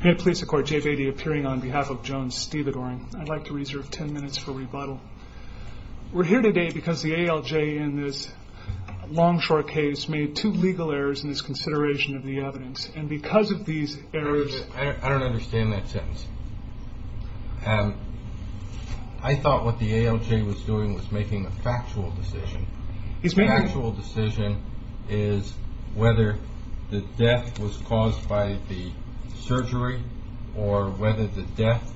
Here at Police Accord, Jay Beatty appearing on behalf of Jones Stevedoring. I'd like to reserve ten minutes for rebuttal. We're here today because the ALJ in this long short case made two legal errors in its consideration of the evidence and because of these errors I don't understand that sentence. I thought what the ALJ was doing was making a factual decision. His factual decision is whether the death was caused by the surgery or whether the death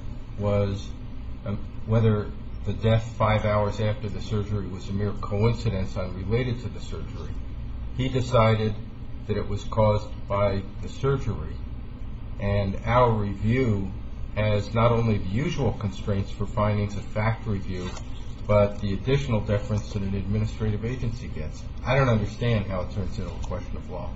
five hours after the surgery was a mere coincidence unrelated to the surgery. He decided that it was caused by the surgery. And our review has not only the usual constraints for findings of fact review, but the additional deference that an administrative agency gets. I don't understand how it turns into a question of law.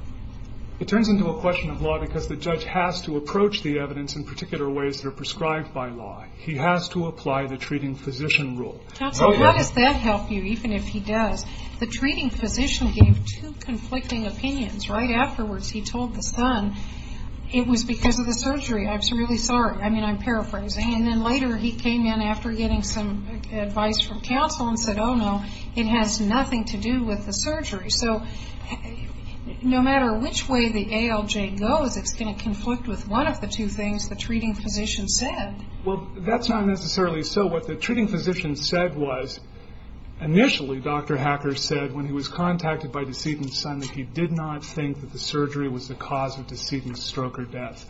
It turns into a question of law because the judge has to approach the evidence in particular ways that are prescribed by law. He has to apply the treating physician rule. Counsel, how does that help you, even if he does? The treating physician gave two conflicting opinions. Right afterwards he told the son it was because of the surgery. I'm really sorry. I mean, I'm paraphrasing. And then later he came in after getting some advice from counsel and said, oh, no, it has nothing to do with the surgery. So no matter which way the ALJ goes, it's going to conflict with one of the two things the treating physician said. Well, that's not necessarily so. What the treating physician said was, initially Dr. Hacker said when he was contacted by Decedent's son that he did not think that the surgery was the cause of Decedent's stroke or death.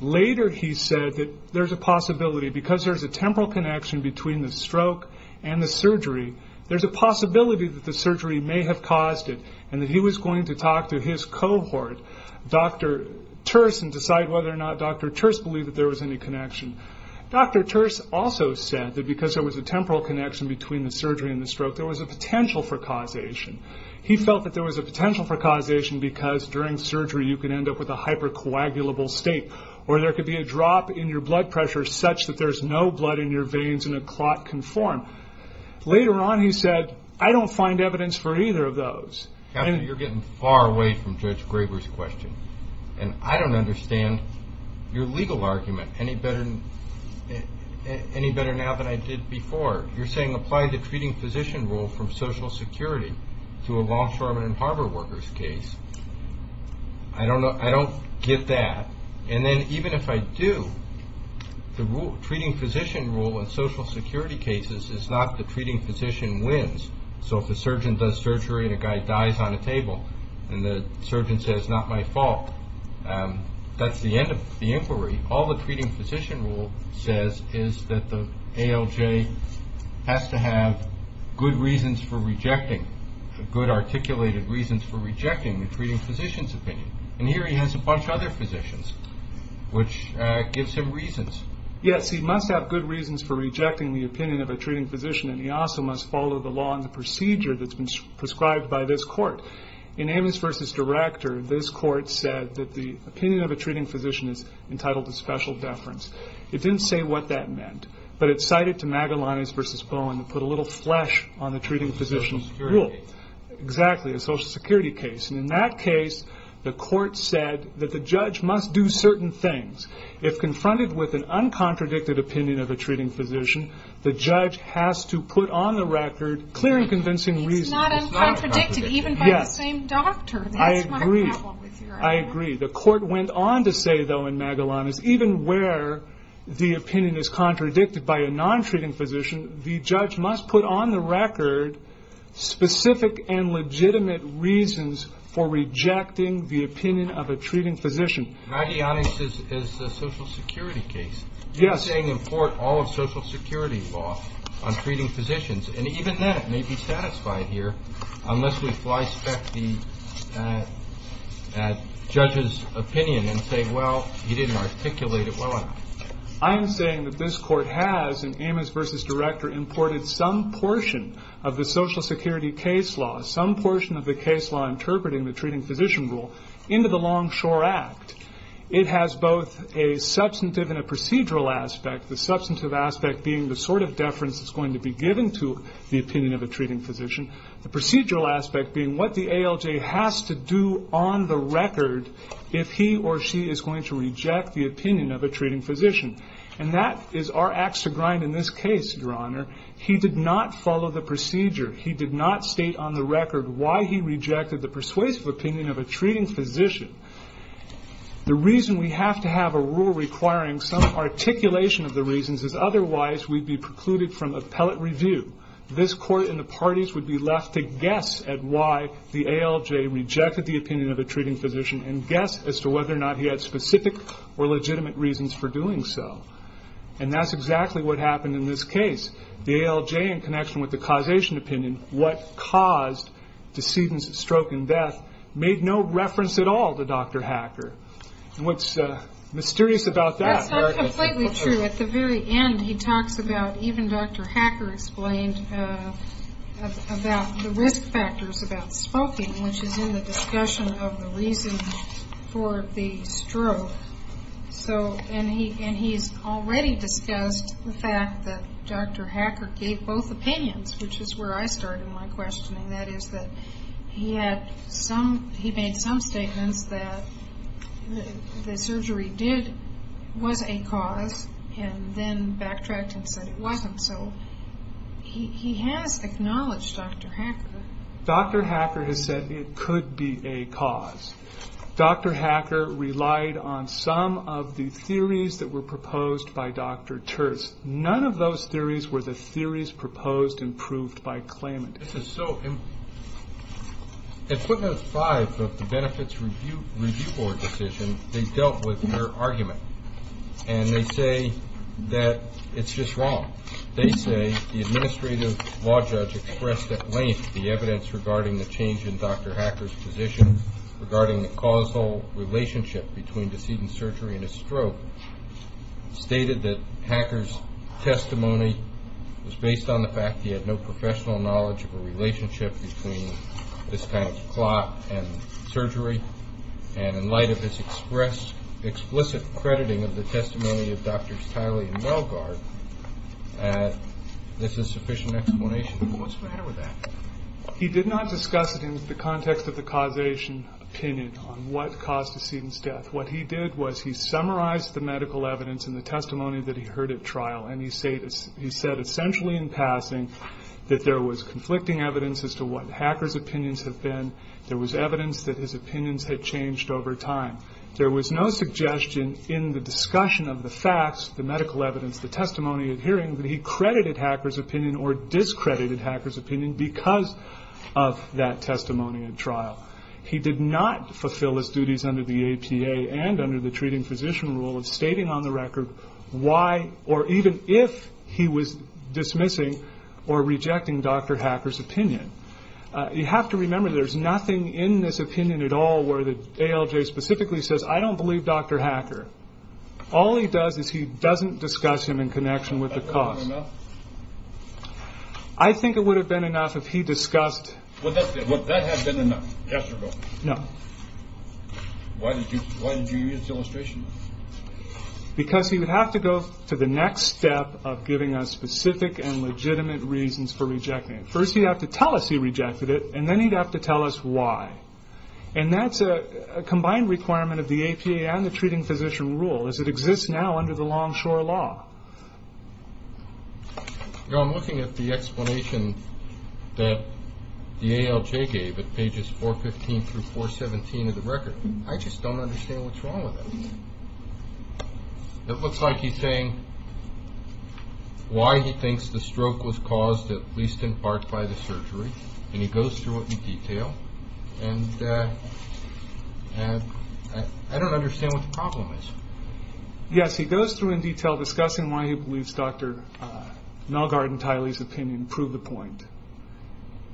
Later he said that there's a possibility because there's a temporal connection between the stroke and the surgery. There's a possibility that the surgery may have caused it and that he was going to talk to his cohort, Dr. Terse, and decide whether or not Dr. Terse believed that there was any connection. Dr. Terse also said that because there was a temporal connection between the surgery and the stroke, there was a potential for causation. He felt that there was a potential for causation because during surgery you could end up with a hypercoagulable state, or there could be a drop in your blood pressure such that there's no blood in your veins and a clot can form. Later on he said, I don't find evidence for either of those. You're getting far away from Judge Graber's question, and I don't understand your legal argument any better now than I did before. You're saying apply the treating physician rule from Social Security to a Longshoreman and Harbor Workers case. I don't get that, and then even if I do, the treating physician rule in Social Security cases is not the treating physician wins. If a surgeon does surgery and a guy dies on a table and the surgeon says, not my fault, that's the end of the inquiry. All the treating physician rule says is that the ALJ has to have good reasons for rejecting, good articulated reasons for rejecting the treating physician's opinion. Here he has a bunch of other physicians, which gives him reasons. Yes, he must have good reasons for rejecting the opinion of a treating physician, and he also must follow the law and the procedure that's been prescribed by this court. In Amos v. Director, this court said that the opinion of a treating physician is entitled to special deference. It didn't say what that meant, but it cited to Magalanes v. Bowen to put a little flesh on the treating physician's rule. A Social Security case. Exactly, a Social Security case. In that case, the court said that the judge must do certain things. If confronted with an uncontradicted opinion of a treating physician, the judge has to put on the record clear and convincing reasons. It's not uncontradicted, even by the same doctor. Yes, I agree. That's my problem with your argument. I agree. The court went on to say, though, in Magalanes, even where the opinion is contradicted by a non-treating physician, the judge must put on the record specific and legitimate reasons for rejecting the opinion of a treating physician. Magalanes is a Social Security case. Yes. It's saying import all of Social Security law on treating physicians. And even that may be satisfied here, unless we flyspeck the judge's opinion and say, well, he didn't articulate it well enough. I am saying that this court has, in Amos v. Director, imported some portion of the Social Security case law, some portion of the case law interpreting the treating physician rule, into the Longshore Act. It has both a substantive and a procedural aspect, the substantive aspect being the sort of deference that's going to be given to the opinion of a treating physician, the procedural aspect being what the ALJ has to do on the record if he or she is going to reject the opinion of a treating physician. And that is our axe to grind in this case, Your Honor. He did not follow the procedure. He did not state on the record why he rejected the persuasive opinion of a treating physician. The reason we have to have a rule requiring some articulation of the reasons is otherwise we'd be precluded from appellate review. This court and the parties would be left to guess at why the ALJ rejected the opinion of a treating physician and guess as to whether or not he had specific or legitimate reasons for doing so. And that's exactly what happened in this case. The ALJ in connection with the causation opinion, what caused decedent's stroke and death, made no reference at all to Dr. Hacker. And what's mysterious about that- That's not completely true. At the very end he talks about, even Dr. Hacker explained about the risk factors about smoking, which is in the discussion of the reason for the stroke. And he's already discussed the fact that Dr. Hacker gave both opinions, which is where I started my questioning. That is that he made some statements that the surgery was a cause and then backtracked and said it wasn't. So he has acknowledged Dr. Hacker. Dr. Hacker has said it could be a cause. Dr. Hacker relied on some of the theories that were proposed by Dr. Church. None of those theories were the theories proposed and proved by claimant. This is so- In footnotes five of the benefits review board decision, they dealt with their argument. And they say that it's just wrong. They say the administrative law judge expressed at length the evidence regarding the change in Dr. Hacker's position, regarding the causal relationship between decedent surgery and a stroke, stated that Hacker's testimony was based on the fact he had no professional knowledge of a relationship between this kind of clot and surgery. And in light of his explicit crediting of the testimony of Drs. Tiley and Wellgaard, this is sufficient explanation. What's the matter with that? He did not discuss it in the context of the causation opinion on what caused a decedent's death. What he did was he summarized the medical evidence and the testimony that he heard at trial. And he said essentially in passing that there was conflicting evidence as to what Hacker's opinions had been. There was evidence that his opinions had changed over time. There was no suggestion in the discussion of the facts, the medical evidence, the testimony at hearing, that he credited Hacker's opinion or discredited Hacker's opinion because of that testimony at trial. He did not fulfill his duties under the APA and under the treating physician rule of stating on the record why or even if he was dismissing or rejecting Dr. Hacker's opinion. You have to remember there's nothing in this opinion at all where the ALJ specifically says, I don't believe Dr. Hacker. All he does is he doesn't discuss him in connection with the cause. I think it would have been enough if he discussed... Would that have been enough? Yes or no? No. Why did you use the illustration? Because he would have to go to the next step of giving us specific and legitimate reasons for rejecting it. First he'd have to tell us he rejected it, and then he'd have to tell us why. And that's a combined requirement of the APA and the treating physician rule as it exists now under the Longshore Law. I'm looking at the explanation that the ALJ gave at pages 415 through 417 of the record. I just don't understand what's wrong with that. It looks like he's saying why he thinks the stroke was caused at least in part by the surgery, and he goes through it in detail, and I don't understand what the problem is. Yes, he goes through in detail discussing why he believes Dr. Nalgarden-Tiley's opinion proved the point.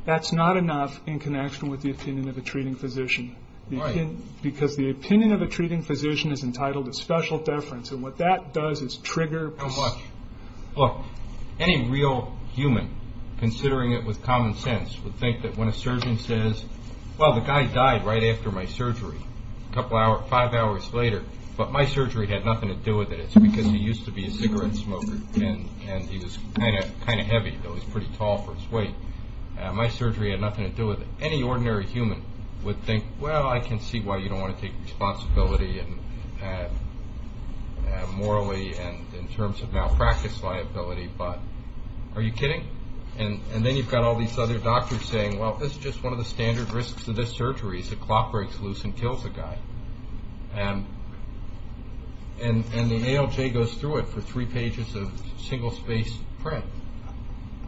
That's not enough in connection with the opinion of a treating physician. Right. Because the opinion of a treating physician is entitled to special deference, and what that does is trigger... Look, any real human, considering it with common sense, would think that when a surgeon says, well, the guy died right after my surgery, five hours later, but my surgery had nothing to do with it. It's because he used to be a cigarette smoker, and he was kind of heavy, though he was pretty tall for his weight. My surgery had nothing to do with it. Any ordinary human would think, well, I can see why you don't want to take responsibility morally and in terms of malpractice liability, but are you kidding? And then you've got all these other doctors saying, well, this is just one of the standard risks of this surgery is the clock breaks loose and kills the guy. And the ALJ goes through it for three pages of single-space print.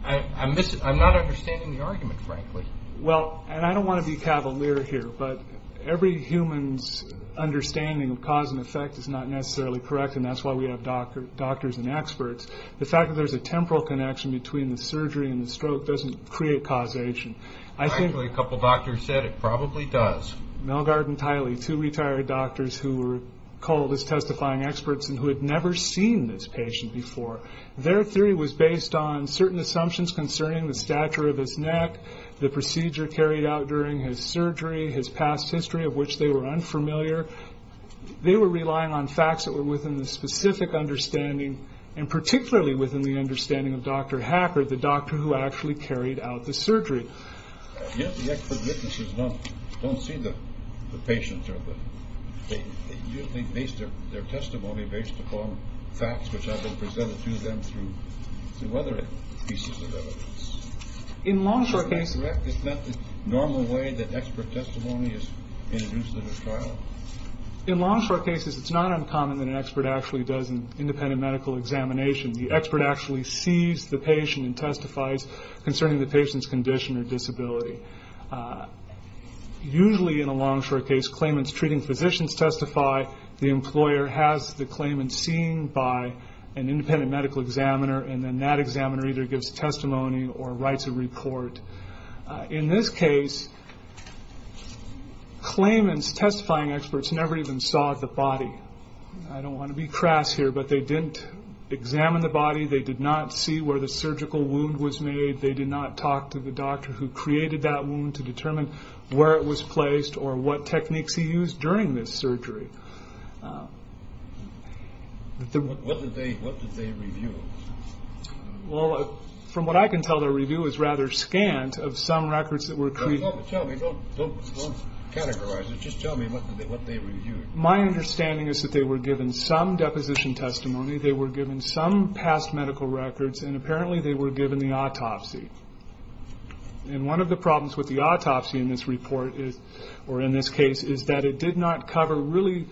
I'm not understanding the argument, frankly. Well, and I don't want to be cavalier here, but every human's understanding of cause and effect is not necessarily correct, and that's why we have doctors and experts. The fact that there's a temporal connection between the surgery and the stroke doesn't create causation. Actually, a couple of doctors said it probably does. Melgard and Tiley, two retired doctors who were called as testifying experts and who had never seen this patient before. Their theory was based on certain assumptions concerning the stature of his neck, the procedure carried out during his surgery, his past history of which they were unfamiliar. They were relying on facts that were within the specific understanding and particularly within the understanding of Dr. Hacker, the doctor who actually carried out the surgery. Yet the expert witnesses don't see the patient. They base their testimony based upon facts which have been presented to them through other pieces of evidence. In long, short cases. Is that the normal way that expert testimony is introduced in a trial? In long, short cases, it's not uncommon that an expert actually does an independent medical examination. The expert actually sees the patient and testifies concerning the patient's condition or disability. Usually in a long, short case, claimants treating physicians testify. The employer has the claimant seen by an independent medical examiner, and then that examiner either gives testimony or writes a report. In this case, claimants, testifying experts, never even saw the body. I don't want to be crass here, but they didn't examine the body. They did not see where the surgical wound was made. They did not talk to the doctor who created that wound to determine where it was placed or what techniques he used during this surgery. What did they review? From what I can tell, their review is rather scant of some records that were created. Don't categorize it. Just tell me what they reviewed. My understanding is that they were given some deposition testimony, they were given some past medical records, and apparently they were given the autopsy. One of the problems with the autopsy in this report, or in this case, is that it did not cover really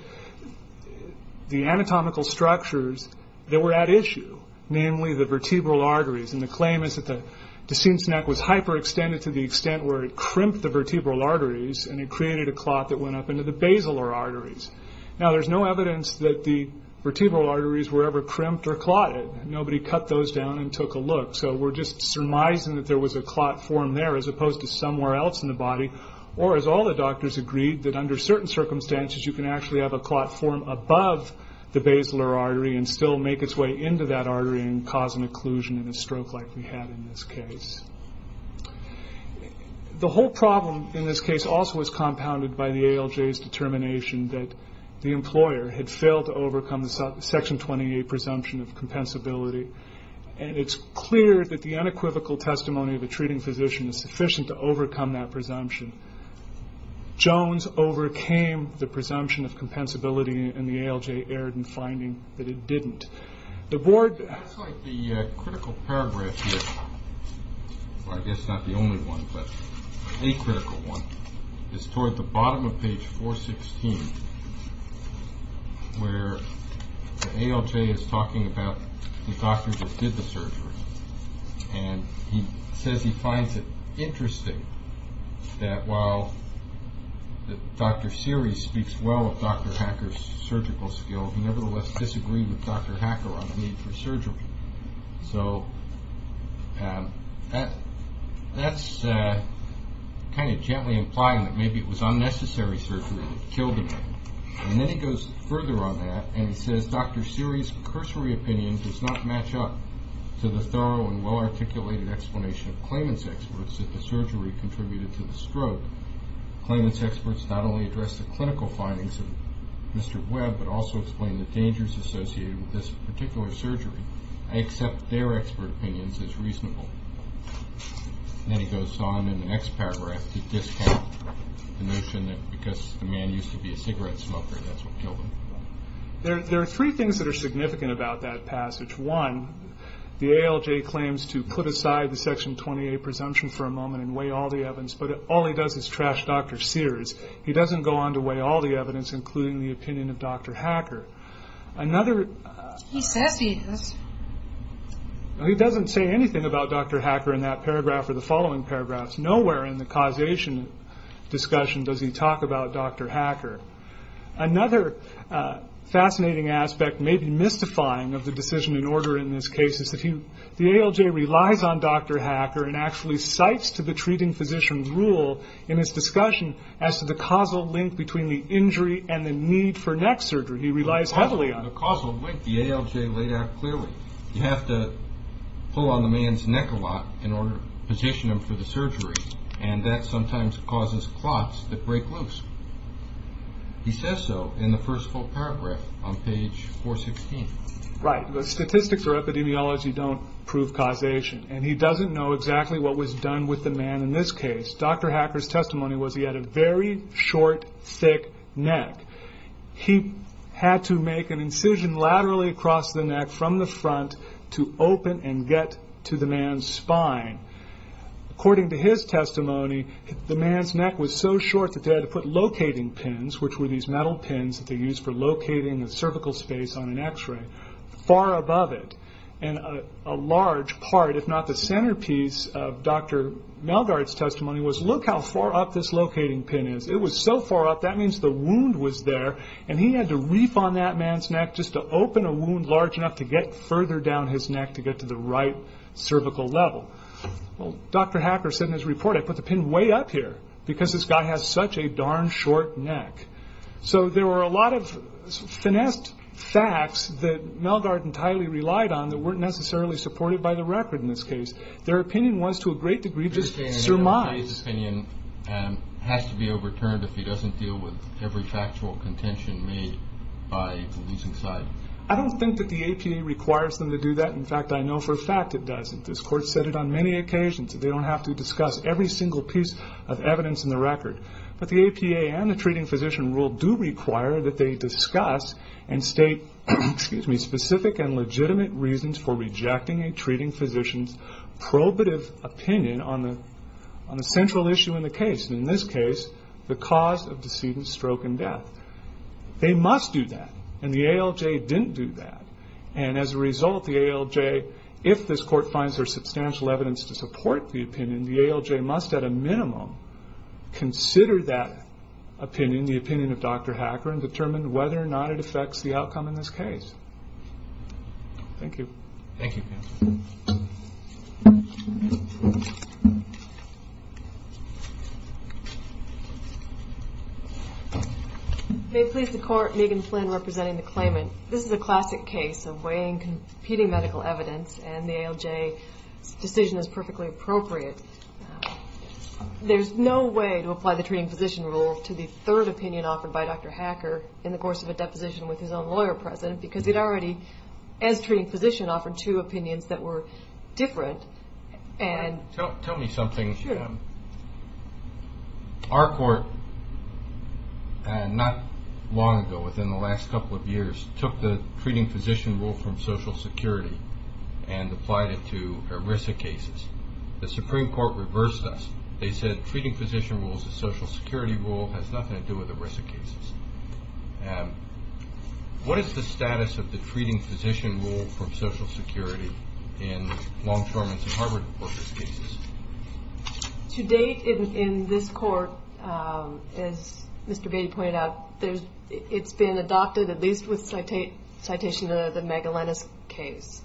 the anatomical structures that were at issue, namely the vertebral arteries. And the claim is that the decene's neck was hyperextended to the extent where it crimped the vertebral arteries, and it created a clot that went up into the basilar arteries. Now, there's no evidence that the vertebral arteries were ever crimped or clotted. Nobody cut those down and took a look. So we're just surmising that there was a clot form there, as opposed to somewhere else in the body. Or, as all the doctors agreed, that under certain circumstances, you can actually have a clot form above the basilar artery and still make its way into that artery and cause an occlusion in a stroke like we had in this case. The whole problem in this case also was compounded by the ALJ's determination that the employer had failed to overcome the Section 28 presumption of compensability. And it's clear that the unequivocal testimony of a treating physician is sufficient to overcome that presumption. Jones overcame the presumption of compensability, and the ALJ erred in finding that it didn't. The board... It looks like the critical paragraph here, or I guess not the only one, but a critical one, is toward the bottom of page 416, where the ALJ is talking about the doctors that did the surgery. And he says he finds it interesting that, while Dr. Seery speaks well of Dr. Hacker's surgical skill, he nevertheless disagreed with Dr. Hacker on the need for surgery. So that's kind of gently implying that maybe it was unnecessary surgery that killed him. And then he goes further on that, and he says Dr. Seery's cursory opinion does not match up to the thorough and well-articulated explanation of claimant's experts that the surgery contributed to the stroke. Claimant's experts not only addressed the clinical findings of Mr. Webb but also explained the dangers associated with this particular surgery. I accept their expert opinions as reasonable. Then he goes on in the next paragraph to discount the notion that because the man used to be a cigarette smoker, that's what killed him. There are three things that are significant about that passage. One, the ALJ claims to put aside the Section 28 presumption for a moment and weigh all the evidence, but all he does is trash Dr. Seery's. He doesn't go on to weigh all the evidence, including the opinion of Dr. Hacker. He says he is. He doesn't say anything about Dr. Hacker in that paragraph or the following paragraphs. Nowhere in the causation discussion does he talk about Dr. Hacker. Another fascinating aspect, maybe mystifying of the decision in order in this case, is that the ALJ relies on Dr. Hacker and actually cites to the treating physician's rule in his discussion as to the causal link between the injury and the need for neck surgery. He relies heavily on it. The causal link the ALJ laid out clearly. You have to pull on the man's neck a lot in order to position him for the surgery, and that sometimes causes clots that break loose. He says so in the first full paragraph on page 416. Right, but statistics or epidemiology don't prove causation, and he doesn't know exactly what was done with the man in this case. Dr. Hacker's testimony was he had a very short, thick neck. He had to make an incision laterally across the neck from the front to open and get to the man's spine. According to his testimony, the man's neck was so short that they had to put locating pins, which were these metal pins that they used for locating the cervical space on an x-ray, far above it. A large part, if not the centerpiece, of Dr. Melgard's testimony was, look how far up this locating pin is. It was so far up, that means the wound was there, and he had to reef on that man's neck just to open a wound large enough to get further down his neck to get to the right cervical level. Well, Dr. Hacker said in his report, I put the pin way up here because this guy has such a darn short neck. So there were a lot of finessed facts that Melgard and Tiley relied on that weren't necessarily supported by the record in this case. Their opinion was, to a great degree, just surmise. Tiley's opinion has to be overturned if he doesn't deal with every factual contention made by the leasing side. I don't think that the APA requires them to do that. In fact, I know for a fact it doesn't. This Court said it on many occasions, that they don't have to discuss every single piece of evidence in the record. But the APA and the treating physician rule do require that they discuss and state specific and legitimate reasons for rejecting a treating physician's probative opinion on the central issue in the case. In this case, the cause of decedent stroke and death. They must do that. And the ALJ didn't do that. And as a result, the ALJ, if this Court finds there's substantial evidence to support the opinion, the ALJ must at a minimum consider that opinion, the opinion of Dr. Hacker, and determine whether or not it affects the outcome in this case. Thank you. Thank you. May it please the Court, Megan Flynn representing the claimant. This is a classic case of weighing competing medical evidence, and the ALJ's decision is perfectly appropriate. There's no way to apply the treating physician rule to the third opinion offered by Dr. Hacker in the course of a deposition with his own lawyer present, because it already, as treating physician, offered two opinions that were different. Tell me something. Sure. Our Court, not long ago, within the last couple of years, took the treating physician rule from Social Security and applied it to ERISA cases. The Supreme Court reversed us. They said treating physician rule is a Social Security rule, has nothing to do with ERISA cases. What is the status of the treating physician rule from Social Security in Longshoreman's and Harvard reporters' cases? To date, in this Court, as Mr. Beatty pointed out, it's been adopted, at least with citation of the Magalenas case,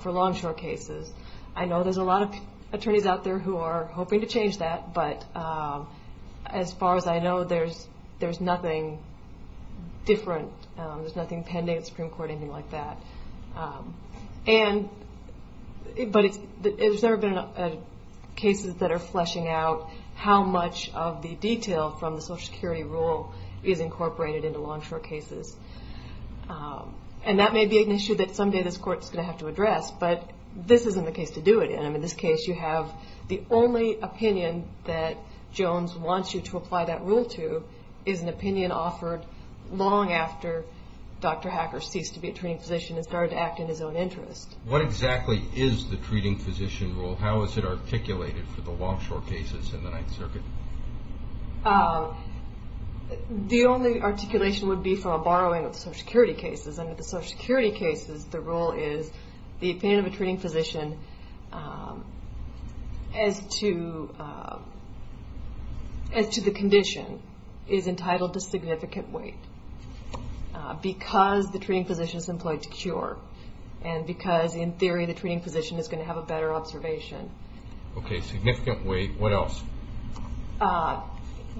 for Longshore cases. I know there's a lot of attorneys out there who are hoping to change that, but as far as I know, there's nothing different. There's nothing pending at the Supreme Court or anything like that. But there's never been cases that are fleshing out how much of the detail from the Social Security rule is incorporated into Longshore cases. And that may be an issue that someday this Court is going to have to address, but this isn't the case to do it in. In this case, you have the only opinion that Jones wants you to apply that rule to is an opinion offered long after Dr. Hacker ceased to be a treating physician and started to act in his own interest. What exactly is the treating physician rule? How is it articulated for the Longshore cases in the Ninth Circuit? The only articulation would be from a borrowing of Social Security cases. Under the Social Security cases, the rule is the opinion of a treating physician as to the condition is entitled to significant weight because the treating physician is employed to cure and because in theory the treating physician is going to have a better observation. Okay, significant weight. What else?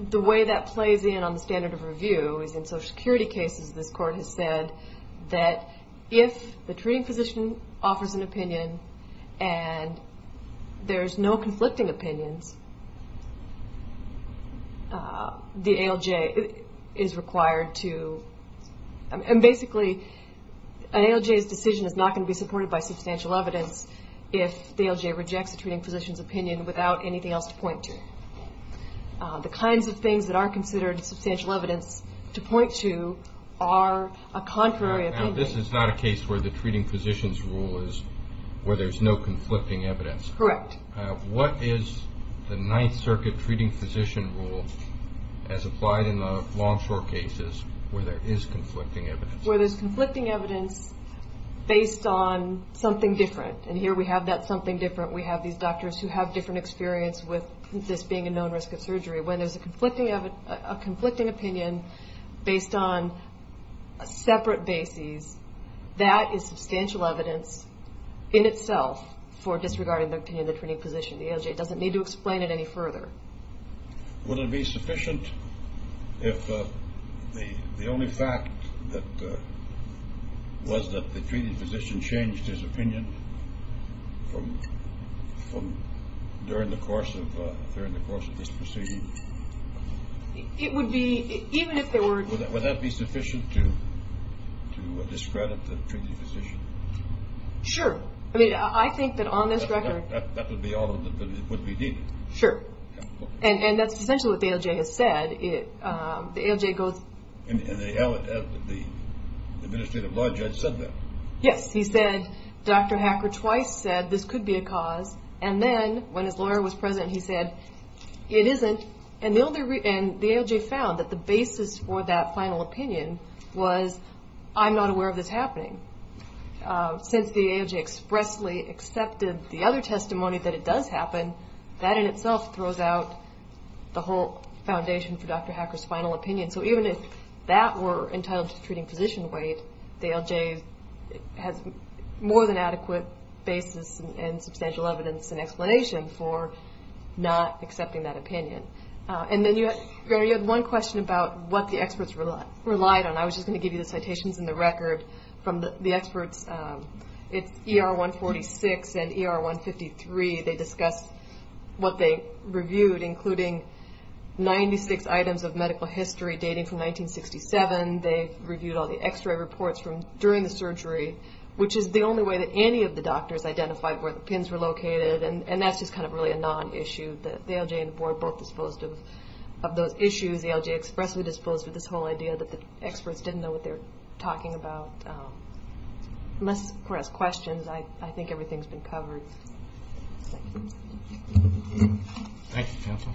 The way that plays in on the standard of review is in Social Security cases, this Court has said that if the treating physician offers an opinion and there's no conflicting opinions, the ALJ is required to and basically an ALJ's decision is not going to be supported by substantial evidence if the ALJ rejects the treating physician's opinion without anything else to point to. The kinds of things that are considered substantial evidence to point to are a contrary opinion. Now, this is not a case where the treating physician's rule is where there's no conflicting evidence. Correct. What is the Ninth Circuit treating physician rule as applied in the Longshore cases where there is conflicting evidence? Where there's conflicting evidence based on something different and here we have that something different. We have these doctors who have different experience with this being a known risk of surgery. When there's a conflicting opinion based on separate bases, that is substantial evidence in itself for disregarding the opinion of the treating physician. The ALJ doesn't need to explain it any further. Would it be sufficient if the only fact was that the treating physician changed his opinion during the course of this proceeding? It would be, even if there were... Would that be sufficient to discredit the treating physician? Sure. I mean, I think that on this record... That would be all that would be needed. Sure. And that's essentially what the ALJ has said. The ALJ goes... And the administrative law judge said that. Yes. He said Dr. Hacker twice said this could be a cause and then when his lawyer was present he said it isn't. And the ALJ found that the basis for that final opinion was I'm not aware of this happening. Since the ALJ expressly accepted the other testimony that it does happen, that in itself throws out the whole foundation for Dr. Hacker's final opinion. So even if that were entitled to treating physician weight, the ALJ has more than adequate basis and substantial evidence and explanation for not accepting that opinion. And then you had one question about what the experts relied on. I was just going to give you the citations in the record from the experts. It's ER 146 and ER 153. They discussed what they reviewed, including 96 items of medical history dating from 1967. They reviewed all the x-ray reports from during the surgery, which is the only way that any of the doctors identified where the pins were located, and that's just kind of really a non-issue. The ALJ and the board both disposed of those issues. The ALJ expressly disposed of this whole idea that the experts didn't know what they were talking about. Unless, of course, questions, I think everything's been covered. Thank you. Thank you, counsel.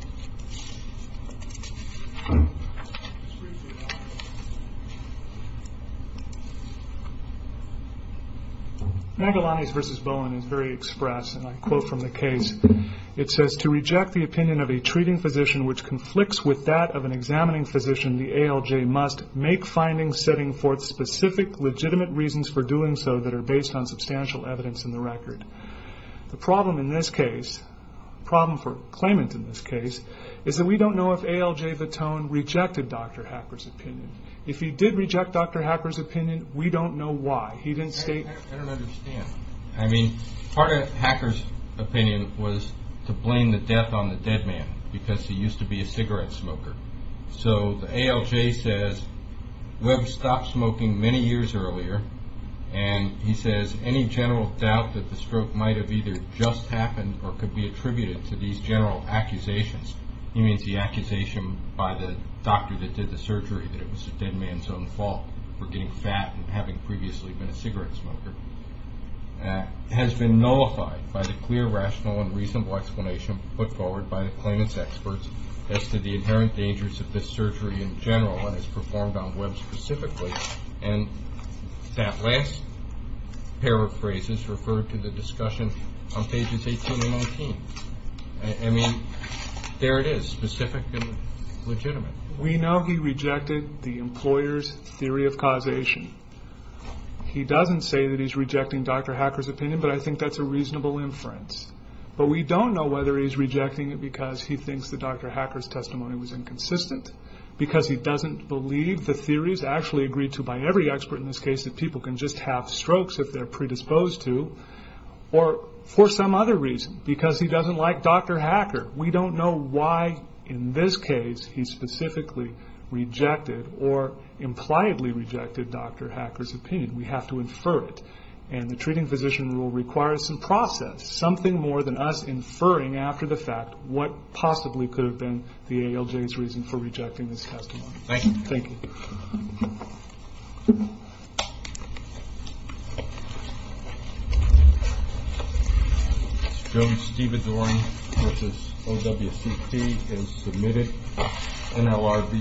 Magalanes v. Bowen is very express, and I quote from the case. It says, To reject the opinion of a treating physician which conflicts with that of an examining physician, the ALJ must make findings setting forth specific legitimate reasons for doing so that are based on substantial evidence in the record. The problem in this case, problem for claimant in this case, is that we don't know if ALJ Votone rejected Dr. Hacker's opinion. If he did reject Dr. Hacker's opinion, we don't know why. I don't understand. I mean, part of Hacker's opinion was to blame the death on the dead man because he used to be a cigarette smoker. So the ALJ says, Webb stopped smoking many years earlier, and he says any general doubt that the stroke might have either just happened or could be attributed to these general accusations, he means the accusation by the doctor that did the surgery that it was the dead man's own fault for getting fat and having previously been a cigarette smoker, has been nullified by the clear, rational, and reasonable explanation put forward by the claimant's experts as to the inherent dangers of this surgery in general, and it's performed on Webb specifically. And that last pair of phrases refer to the discussion on pages 18 and 19. I mean, there it is, specific and legitimate. We know he rejected the employer's theory of causation. He doesn't say that he's rejecting Dr. Hacker's opinion, but I think that's a reasonable inference. But we don't know whether he's rejecting it because he thinks that Dr. Hacker's testimony was inconsistent, because he doesn't believe the theories actually agreed to by every expert in this case that people can just have strokes if they're predisposed to, or for some other reason, because he doesn't like Dr. Hacker. We don't know why in this case he specifically rejected or impliedly rejected Dr. Hacker's opinion. We have to infer it, and the treating physician rule requires some process, something more than us inferring after the fact what possibly could have been the ALJ's reason for rejecting this testimony. Thank you. Thank you.